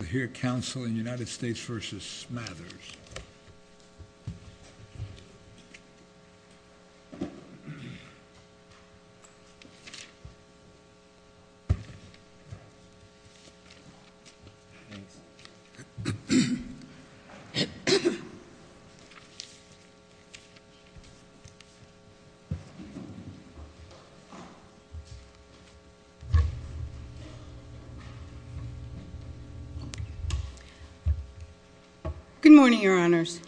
We'll hear counsel in United States v. Smathers. Good morning, Your Honors.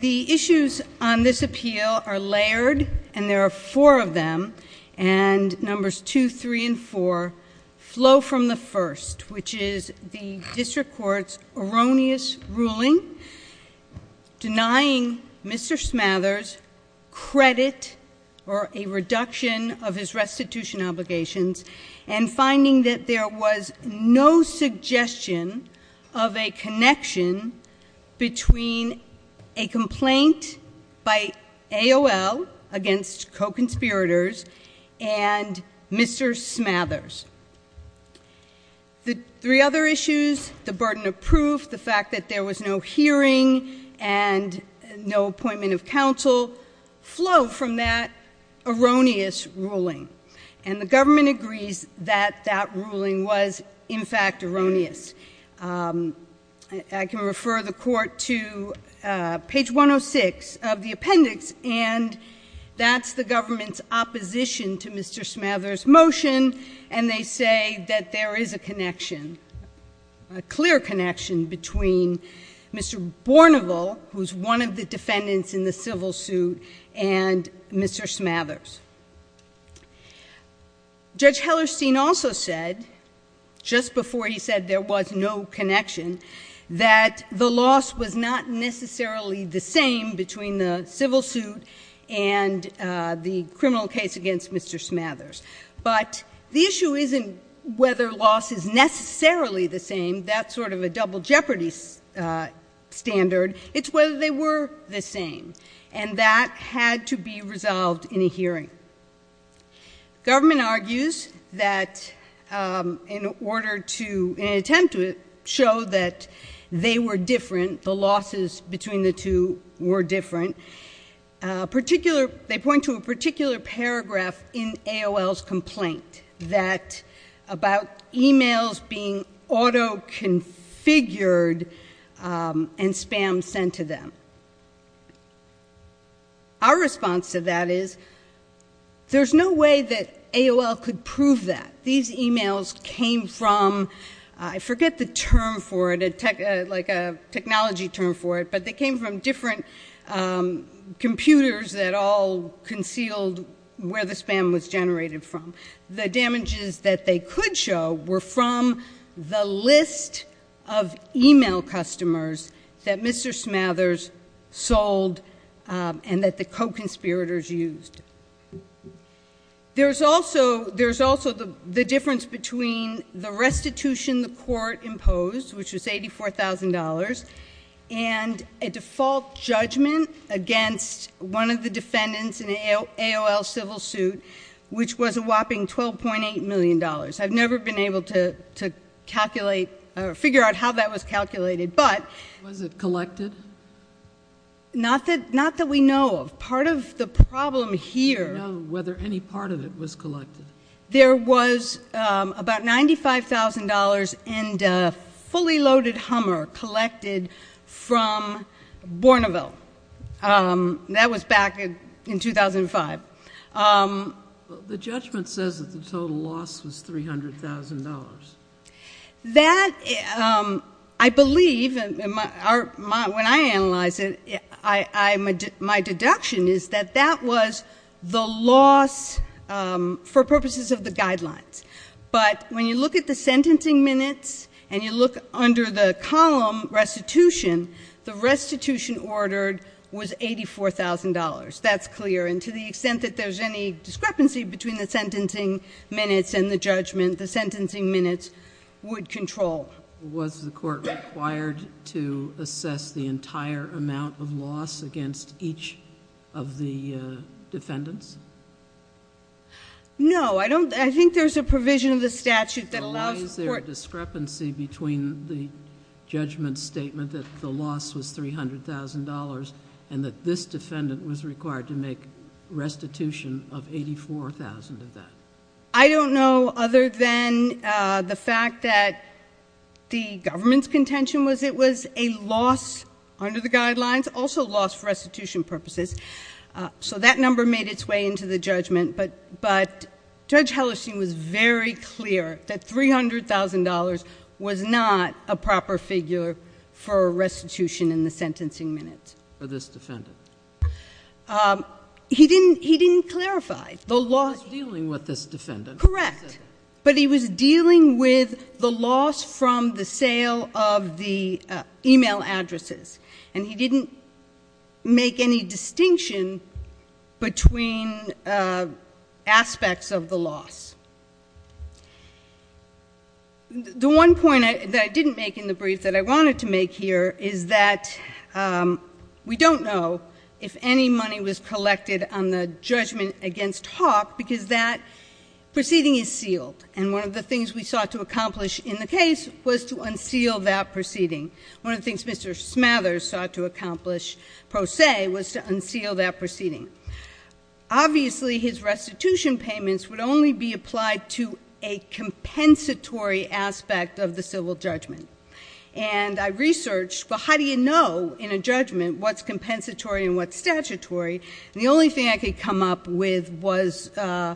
The issues on this appeal are layered, and there are four of them, and numbers 2, 3, and 4 flow from the first, which is the District Court's erroneous ruling denying Mr. Smathers credit or a reduction of his restitution obligations and finding that there was no suggestion of a connection between a complaint by AOL against co-conspirators and Mr. Smathers. The three other issues, the burden of proof, the fact that there was no hearing and no appointment of counsel, flow from that erroneous ruling. And the government agrees that that ruling was, in fact, erroneous. I can refer the Court to page 106 of the appendix, and that's the government's opposition to Mr. Smathers' motion, and they say that there is a connection, a clear connection between Mr. Bourneville, who's one of the defendants in the civil suit, and Mr. Smathers. Judge Hellerstein also said, just before he said there was no connection, that the loss was not necessarily the same between the civil suit and the criminal case against Mr. Smathers. But the issue isn't whether loss is necessarily the same. That's sort of a double jeopardy standard. It's whether they were the same, and that had to be resolved in a hearing. Government argues that in an attempt to show that they were different, the losses between the two were different, they point to a particular paragraph in AOL's complaint about emails being auto-configured and spam sent to them. Our response to that is there's no way that AOL could prove that. These emails came from, I forget the term for it, like a technology term for it, but they came from different computers that all concealed where the spam was generated from. The damages that they could show were from the list of email customers that Mr. Smathers sold and that the co-conspirators used. There's also the difference between the restitution the court imposed, which was $84,000, and a default judgment against one of the defendants in an AOL civil suit, which was a whopping $12.8 million. I've never been able to figure out how that was calculated. Was it collected? Not that we know of. Part of the problem here— We don't know whether any part of it was collected. There was about $95,000 in fully loaded Hummer collected from Bourneville. That was back in 2005. The judgment says that the total loss was $300,000. That, I believe, when I analyze it, my deduction is that that was the loss for purposes of the guidelines. But when you look at the sentencing minutes and you look under the column restitution, the restitution ordered was $84,000. That's clear. And to the extent that there's any discrepancy between the sentencing minutes and the judgment, the sentencing minutes would control. Was the court required to assess the entire amount of loss against each of the defendants? No. I think there's a provision of the statute that allows the court— that the loss was $300,000 and that this defendant was required to make restitution of $84,000 of that. I don't know other than the fact that the government's contention was it was a loss under the guidelines, also a loss for restitution purposes. So that number made its way into the judgment. But Judge Hellerstein was very clear that $300,000 was not a proper figure for restitution in the sentencing minutes. For this defendant. He didn't clarify. He was dealing with this defendant. Correct. But he was dealing with the loss from the sale of the e-mail addresses. And he didn't make any distinction between aspects of the loss. The one point that I didn't make in the brief that I wanted to make here is that we don't know if any money was collected on the judgment against Hawk because that proceeding is sealed. And one of the things we sought to accomplish in the case was to unseal that proceeding. One of the things Mr. Smathers sought to accomplish, per se, was to unseal that proceeding. Obviously, his restitution payments would only be applied to a compensatory aspect of the civil judgment. And I researched, well, how do you know in a judgment what's compensatory and what's statutory? And the only thing I could come up with was some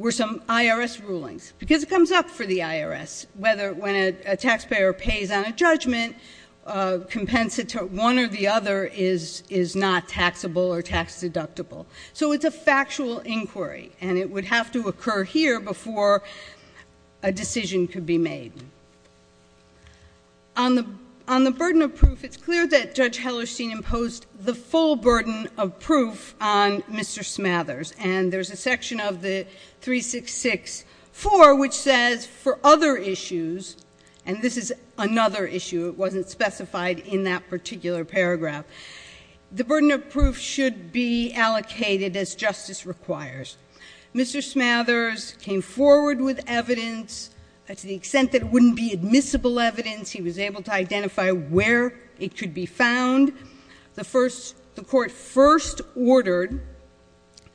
IRS rulings. Because it comes up for the IRS whether when a taxpayer pays on a judgment, compensatory one or the other is not taxable or tax deductible. So it's a factual inquiry. And it would have to occur here before a decision could be made. On the burden of proof, it's clear that Judge Hellerstein imposed the full burden of proof on Mr. Smathers. And there's a section of the 366-4 which says for other issues, and this is another issue, it wasn't specified in that particular paragraph. The burden of proof should be allocated as justice requires. Mr. Smathers came forward with evidence to the extent that it wouldn't be admissible evidence. He was able to identify where it could be found. The court first ordered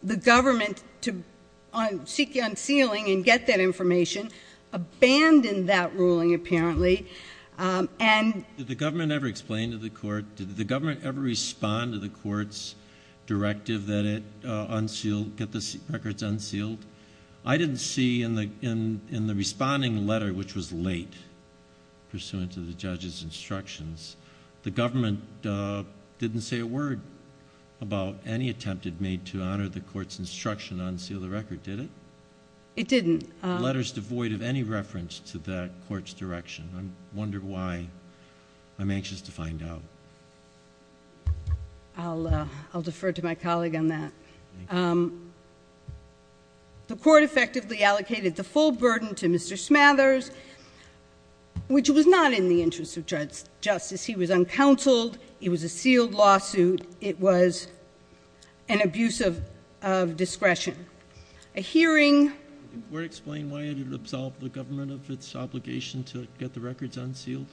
the government to seek unsealing and get that information. Abandoned that ruling, apparently, and- Did the government ever explain to the court, did the government ever respond to the court's directive that it unsealed, get the records unsealed? I didn't see in the responding letter, which was late, pursuant to the judge's instructions, the government didn't say a word about any attempt it made to honor the court's instruction to unseal the record, did it? It didn't. Letters devoid of any reference to that court's direction. I wonder why. I'm anxious to find out. I'll defer to my colleague on that. The court effectively allocated the full burden to Mr. Smathers, which was not in the interest of justice. He was uncounseled. It was a sealed lawsuit. It was an abuse of discretion. A hearing- Did the court explain why it had absolved the government of its obligation to get the records unsealed?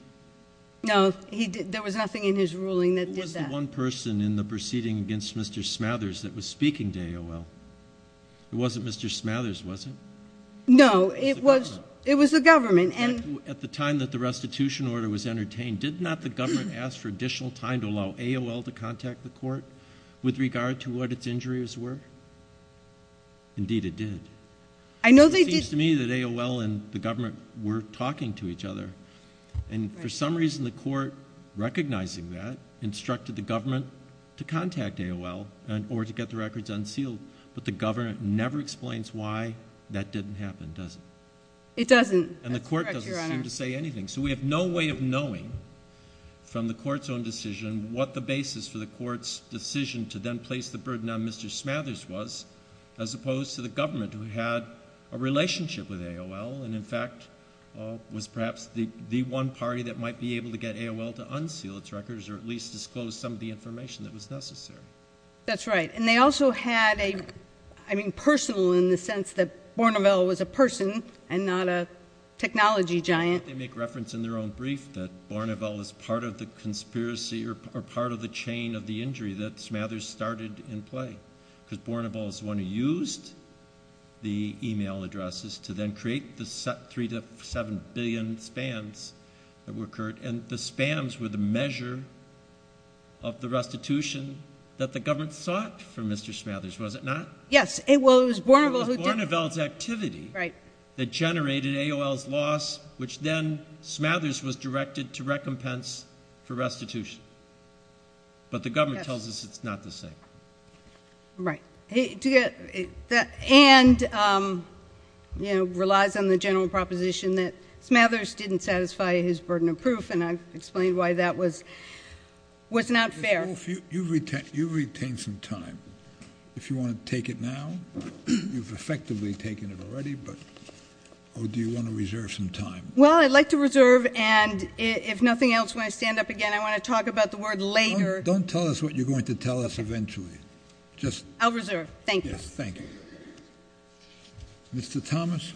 No, there was nothing in his ruling that did that. There was one person in the proceeding against Mr. Smathers that was speaking to AOL. It wasn't Mr. Smathers, was it? No, it was the government. At the time that the restitution order was entertained, did not the government ask for additional time to allow AOL to contact the court with regard to what its injuries were? Indeed, it did. It seems to me that AOL and the government were talking to each other, and for some reason the court, recognizing that, instructed the government to contact AOL in order to get the records unsealed. But the government never explains why that didn't happen, does it? It doesn't. And the court doesn't seem to say anything. So we have no way of knowing from the court's own decision what the basis for the court's decision to then place the burden on Mr. Smathers was, as opposed to the government, who had a relationship with AOL and, in fact, was perhaps the one party that might be able to get AOL to unseal its records or at least disclose some of the information that was necessary. That's right. And they also had a personal, in the sense that Borneville was a person and not a technology giant. They make reference in their own brief that Borneville was part of the conspiracy or part of the chain of the injury that Smathers started in play, because Borneville was the one who used the e-mail addresses to then create the 3 to 7 billion SPAMs that were occurred, and the SPAMs were the measure of the restitution that the government sought from Mr. Smathers, was it not? Yes. It was Borneville who did it. It was Borneville's activity that generated AOL's loss, which then Smathers was directed to recompense for restitution. But the government tells us it's not the same. Right. And relies on the general proposition that Smathers didn't satisfy his burden of proof, and I've explained why that was not fair. Ms. Wolf, you've retained some time. If you want to take it now, you've effectively taken it already, but do you want to reserve some time? Well, I'd like to reserve, and if nothing else, when I stand up again, I want to talk about the word later. Don't tell us what you're going to tell us eventually. I'll reserve. Thank you. Thank you. Mr. Thomas.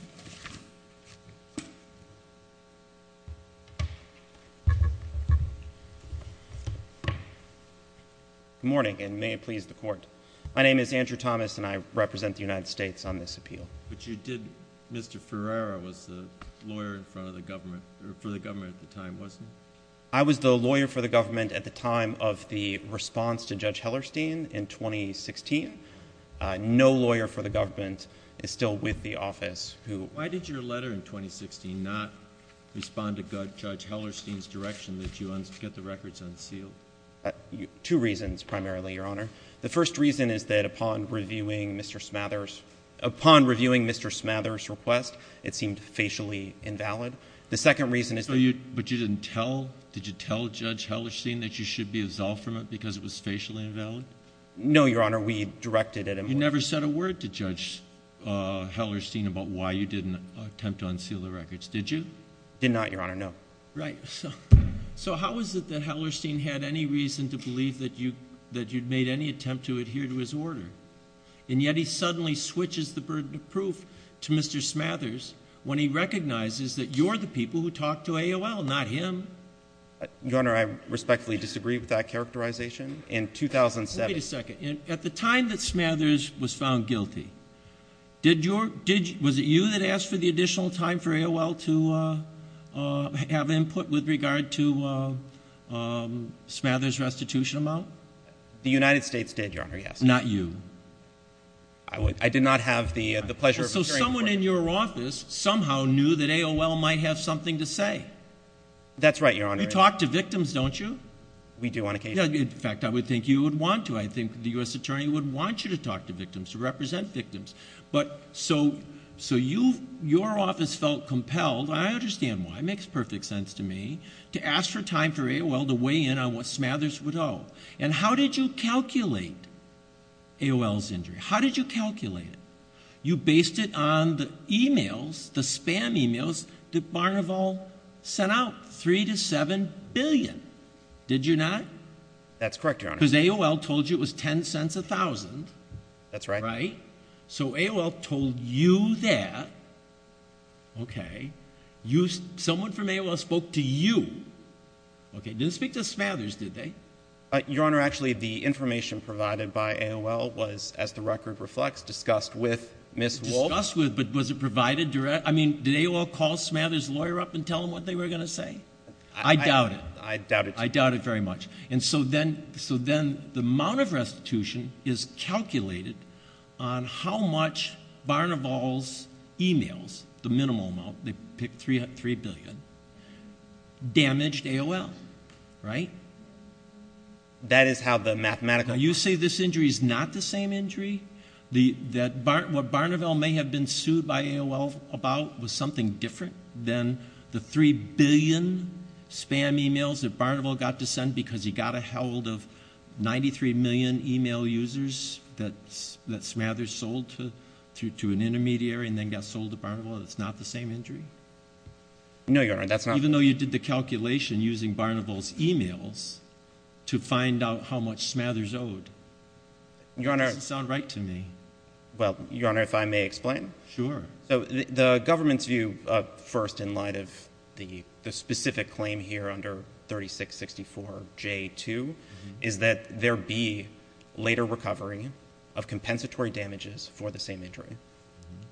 Good morning, and may it please the Court. My name is Andrew Thomas, and I represent the United States on this appeal. But you did – Mr. Ferreira was the lawyer in front of the government – for the government at the time, wasn't he? I was the lawyer for the government at the time of the response to Judge Hellerstein in 2016. No lawyer for the government is still with the office who – Why did your letter in 2016 not respond to Judge Hellerstein's direction that you get the records unsealed? Two reasons, primarily, Your Honor. The first reason is that upon reviewing Mr. Smather's request, it seemed facially invalid. The second reason is that – But you didn't tell – did you tell Judge Hellerstein that you should be absolved from it because it was facially invalid? No, Your Honor. We directed it – You never said a word to Judge Hellerstein about why you didn't attempt to unseal the records, did you? Did not, Your Honor, no. Right. So how is it that Hellerstein had any reason to believe that you'd made any attempt to adhere to his order? And yet he suddenly switches the burden of proof to Mr. Smather's when he recognizes that you're the people who talked to AOL, not him. Your Honor, I respectfully disagree with that characterization. In 2007 – Wait a second. At the time that Smather's was found guilty, did your – was it you that asked for the additional time for AOL to have input with regard to Smather's restitution amount? The United States did, Your Honor, yes. Not you? I did not have the pleasure of – So someone in your office somehow knew that AOL might have something to say? That's right, Your Honor. You talk to victims, don't you? We do on occasion. In fact, I would think you would want to. I think the U.S. Attorney would want you to talk to victims, to represent victims. But so you – your office felt compelled, and I understand why. It makes perfect sense to me, to ask for time for AOL to weigh in on what Smather's would owe. And how did you calculate AOL's injury? How did you calculate it? You based it on the emails, the spam emails that Barnaval sent out, three to seven billion. Did you not? That's correct, Your Honor. Because AOL told you it was 10 cents a thousand. That's right. Right? So AOL told you that. Okay. Someone from AOL spoke to you. Okay. Didn't speak to Smather's, did they? Your Honor, actually, the information provided by AOL was, as the record reflects, discussed with Ms. Wolfe. Discussed with, but was it provided direct – I mean, did AOL call Smather's lawyer up and tell him what they were going to say? I doubt it. I doubt it. I doubt it very much. And so then the amount of restitution is calculated on how much Barnaval's emails, the minimal amount, they picked three billion, damaged AOL. Right? That is how the mathematical – because he got a hold of 93 million email users that Smather's sold to an intermediary and then got sold to Barnaval. It's not the same injury? No, Your Honor, that's not – Even though you did the calculation using Barnaval's emails to find out how much Smather's owed. Your Honor – It doesn't sound right to me. Well, Your Honor, if I may explain. Sure. So the government's view first in light of the specific claim here under 3664J2 is that there be later recovery of compensatory damages for the same injury.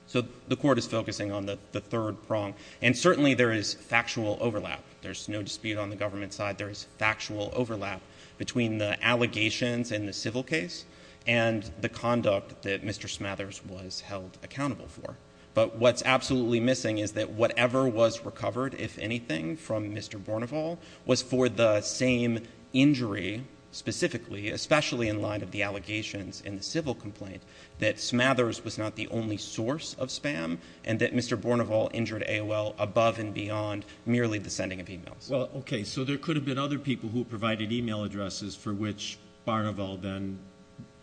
So the court is focusing on the third prong. And certainly there is factual overlap. There's no dispute on the government side. There's factual overlap between the allegations in the civil case and the conduct that Mr. Smather's was held accountable for. But what's absolutely missing is that whatever was recovered, if anything, from Mr. Barnaval was for the same injury specifically, especially in light of the allegations in the civil complaint that Smather's was not the only source of spam and that Mr. Barnaval injured AOL above and beyond merely the sending of emails. Well, okay. So there could have been other people who provided email addresses for which Barnaval then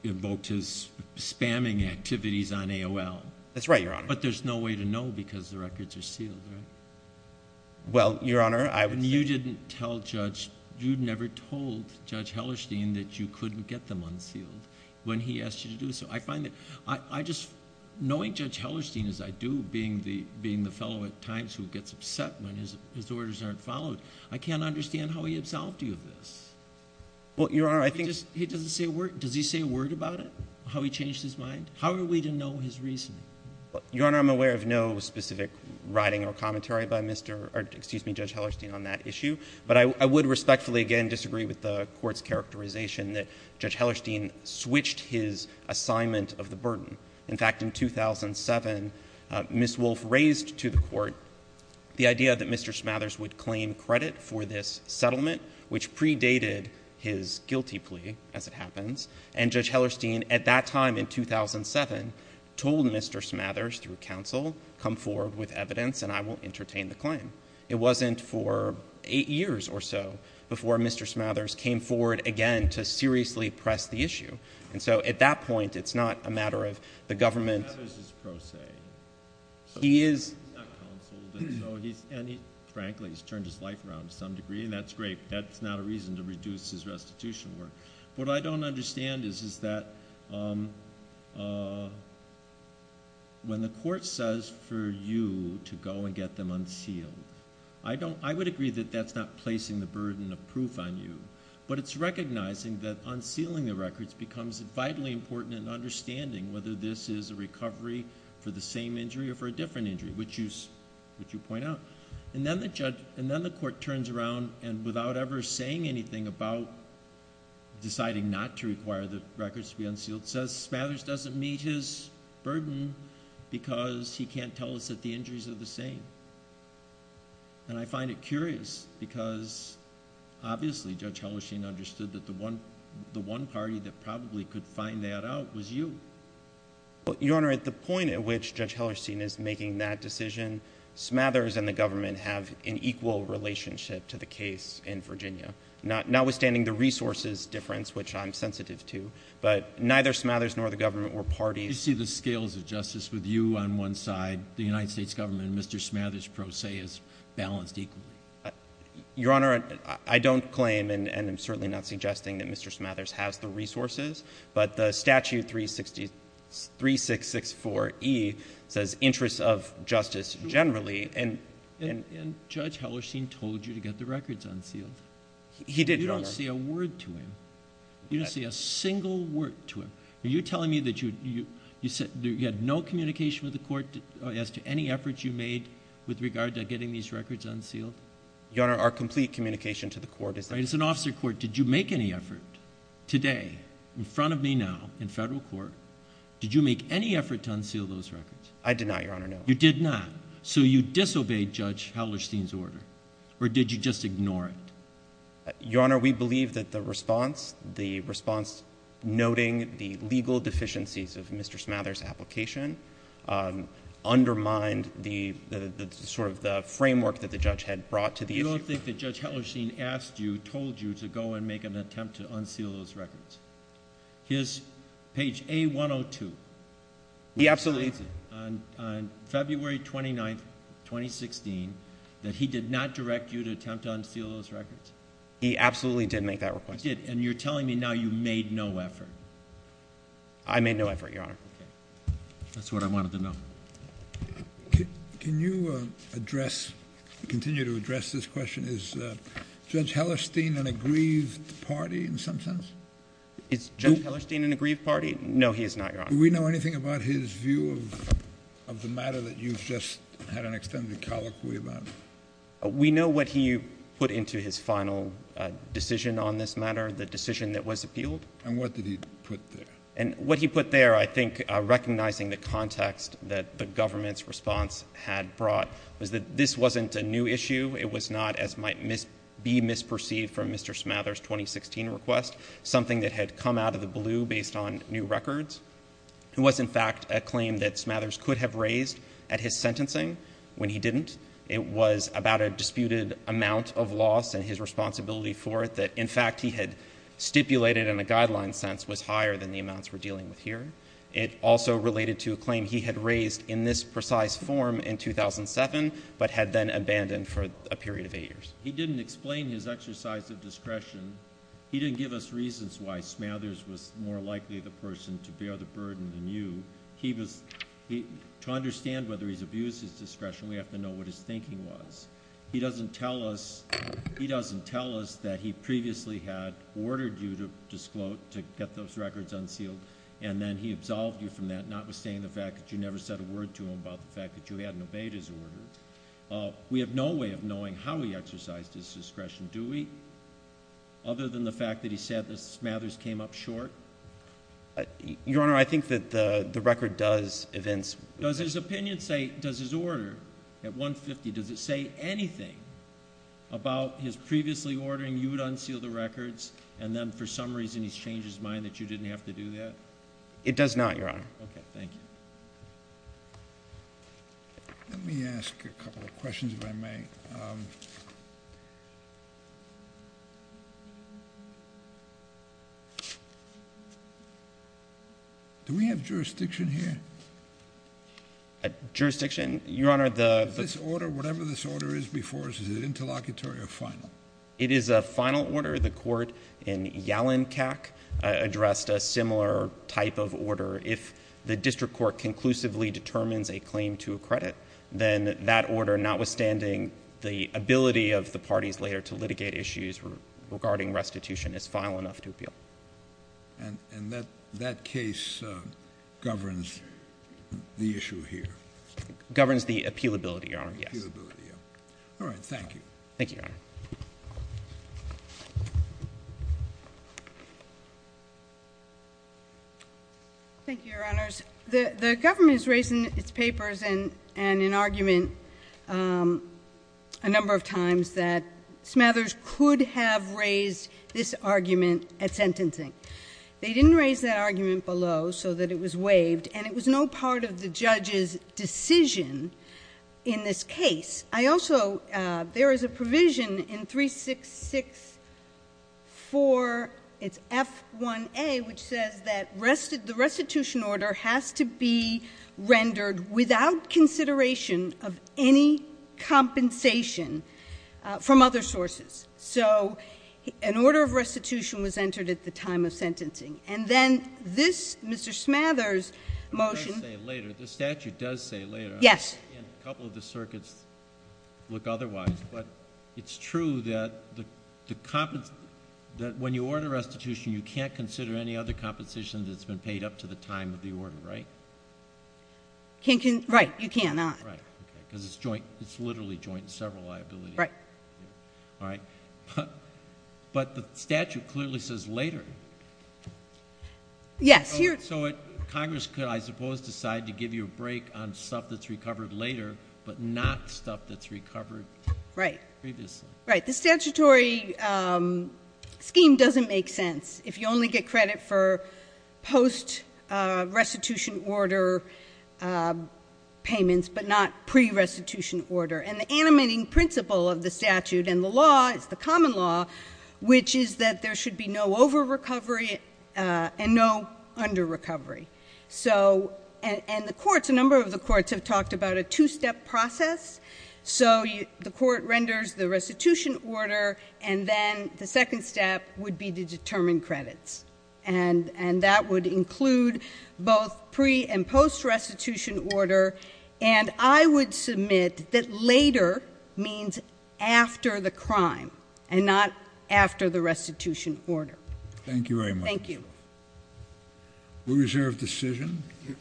invoked his spamming activities on AOL. That's right, Your Honor. But there's no way to know because the records are sealed, right? Well, Your Honor, I would say... You didn't tell Judge... you never told Judge Hellerstein that you couldn't get them unsealed when he asked you to do so. I find that I just... knowing Judge Hellerstein as I do, being the fellow at times who gets upset when his orders aren't followed, I can't understand how he absolved you of this. Well, Your Honor, I think... He doesn't say a word. Does he say a word about it, how he changed his mind? How are we to know his reasoning? Well, Your Honor, I'm aware of no specific writing or commentary by Mr.... or excuse me, Judge Hellerstein on that issue. But I would respectfully, again, disagree with the Court's characterization that Judge Hellerstein switched his assignment of the burden. In fact, in 2007, Ms. Wolfe raised to the Court the idea that Mr. Smathers would claim credit for this settlement, which predated his guilty plea, as it happens. And Judge Hellerstein, at that time in 2007, told Mr. Smathers through counsel, come forward with evidence and I will entertain the claim. It wasn't for eight years or so before Mr. Smathers came forward again to seriously press the issue. And so at that point, it's not a matter of the government... Smathers is pro se. He is... He's not counseled. And so he's... frankly, he's turned his life around to some degree, and that's great. That's not a reason to reduce his restitution work. What I don't understand is that when the Court says for you to go and get them unsealed, I would agree that that's not placing the burden of proof on you. But it's recognizing that unsealing the records becomes vitally important in understanding whether this is a recovery for the same injury or for a different injury, which you point out. And then the Court turns around and, without ever saying anything about deciding not to require the records to be unsealed, says Smathers doesn't meet his burden because he can't tell us that the injuries are the same. And I find it curious because, obviously, Judge Hellerstein understood that the one party that probably could find that out was you. Your Honor, at the point at which Judge Hellerstein is making that decision, Smathers and the government have an equal relationship to the case in Virginia, notwithstanding the resources difference, which I'm sensitive to. But neither Smathers nor the government or parties... You see the scales of justice with you on one side, the United States government, and Mr. Smathers pro se is balanced equally. Your Honor, I don't claim and I'm certainly not suggesting that Mr. Smathers has the resources, but the statute 3664E says interests of justice generally... And Judge Hellerstein told you to get the records unsealed. He did, Your Honor. You don't say a word to him. You don't say a single word to him. Are you telling me that you had no communication with the court as to any efforts you made with regard to getting these records unsealed? Your Honor, our complete communication to the court is that... As an officer of court, did you make any effort today, in front of me now, in federal court, did you make any effort to unseal those records? I did not, Your Honor, no. You did not. So, you disobeyed Judge Hellerstein's order or did you just ignore it? Your Honor, we believe that the response, the response noting the legal deficiencies of Mr. Smathers' application, undermined the sort of the framework that the judge had brought to the issue. You don't think that Judge Hellerstein asked you, told you to go and make an attempt to unseal those records? Here's page A-102. He absolutely... On February 29th, 2016, that he did not direct you to attempt to unseal those records? He absolutely did make that request. He did, and you're telling me now you made no effort? I made no effort, Your Honor. That's what I wanted to know. Can you address, continue to address this question? Is Judge Hellerstein an aggrieved party in some sense? Is Judge Hellerstein an aggrieved party? No, he is not, Your Honor. Do we know anything about his view of the matter that you've just had an extended colloquy about? We know what he put into his final decision on this matter, the decision that was appealed. And what did he put there? And what he put there, I think, recognizing the context that the government's response had brought, was that this wasn't a new issue. It was not, as might be misperceived from Mr. Smathers' 2016 request, something that had come out of the blue based on new records. It was, in fact, a claim that Smathers could have raised at his sentencing when he didn't. It was about a disputed amount of loss and his responsibility for it that, in fact, he had stipulated in a guideline sense was higher than the amounts we're dealing with here. It also related to a claim he had raised in this precise form in 2007, but had then abandoned for a period of eight years. He didn't explain his exercise of discretion. He didn't give us reasons why Smathers was more likely the person to bear the burden than you. To understand whether he's abused his discretion, we have to know what his thinking was. He doesn't tell us that he previously had ordered you to get those records unsealed, and then he absolved you from that, notwithstanding the fact that you never said a word to him about the fact that you hadn't obeyed his order. We have no way of knowing how he exercised his discretion, do we? Other than the fact that he said that Smathers came up short? Your Honor, I think that the record does evince— Does his opinion say, does his order at 150, does it say anything about his previously ordering you to unseal the records and then for some reason he's changed his mind that you didn't have to do that? It does not, Your Honor. Okay, thank you. Let me ask a couple of questions, if I may. Do we have jurisdiction here? Jurisdiction, Your Honor, the— Is this order, whatever this order is before us, is it interlocutory or final? It is a final order. The court in Yalenkac addressed a similar type of order. If the district court conclusively determines a claim to a credit, then that order, notwithstanding the ability of the parties later to litigate issues regarding restitution, is final enough to appeal. And that case governs the issue here? Governs the appealability, Your Honor, yes. All right, thank you. Thank you, Your Honor. Thank you, Your Honors. The government has raised in its papers and in argument a number of times that Smathers could have raised this argument at sentencing. They didn't raise that argument below so that it was waived, and it was no part of the judge's decision in this case. I also, there is a provision in 366-4, it's F1A, which says that the restitution order has to be rendered without consideration of any compensation from other sources. So an order of restitution was entered at the time of sentencing. And then this, Mr. Smathers' motion— I'm going to say it later. The statute does say later. Yes. A couple of the circuits look otherwise, but it's true that when you order restitution, you can't consider any other compensation that's been paid up to the time of the order, right? Right, you cannot. Right, because it's literally joint and several liabilities. Right. All right? But the statute clearly says later. Yes. So Congress could, I suppose, decide to give you a break on stuff that's recovered later but not stuff that's recovered previously. Right. The statutory scheme doesn't make sense if you only get credit for post-restitution order payments but not pre-restitution order. And the animating principle of the statute and the law is the common law, which is that there should be no over-recovery and no under-recovery. And the courts, a number of the courts, have talked about a two-step process. So the court renders the restitution order, and then the second step would be to determine credits. And that would include both pre- and post-restitution order. And I would submit that later means after the crime and not after the restitution order. Thank you very much. Thank you. We reserve decision.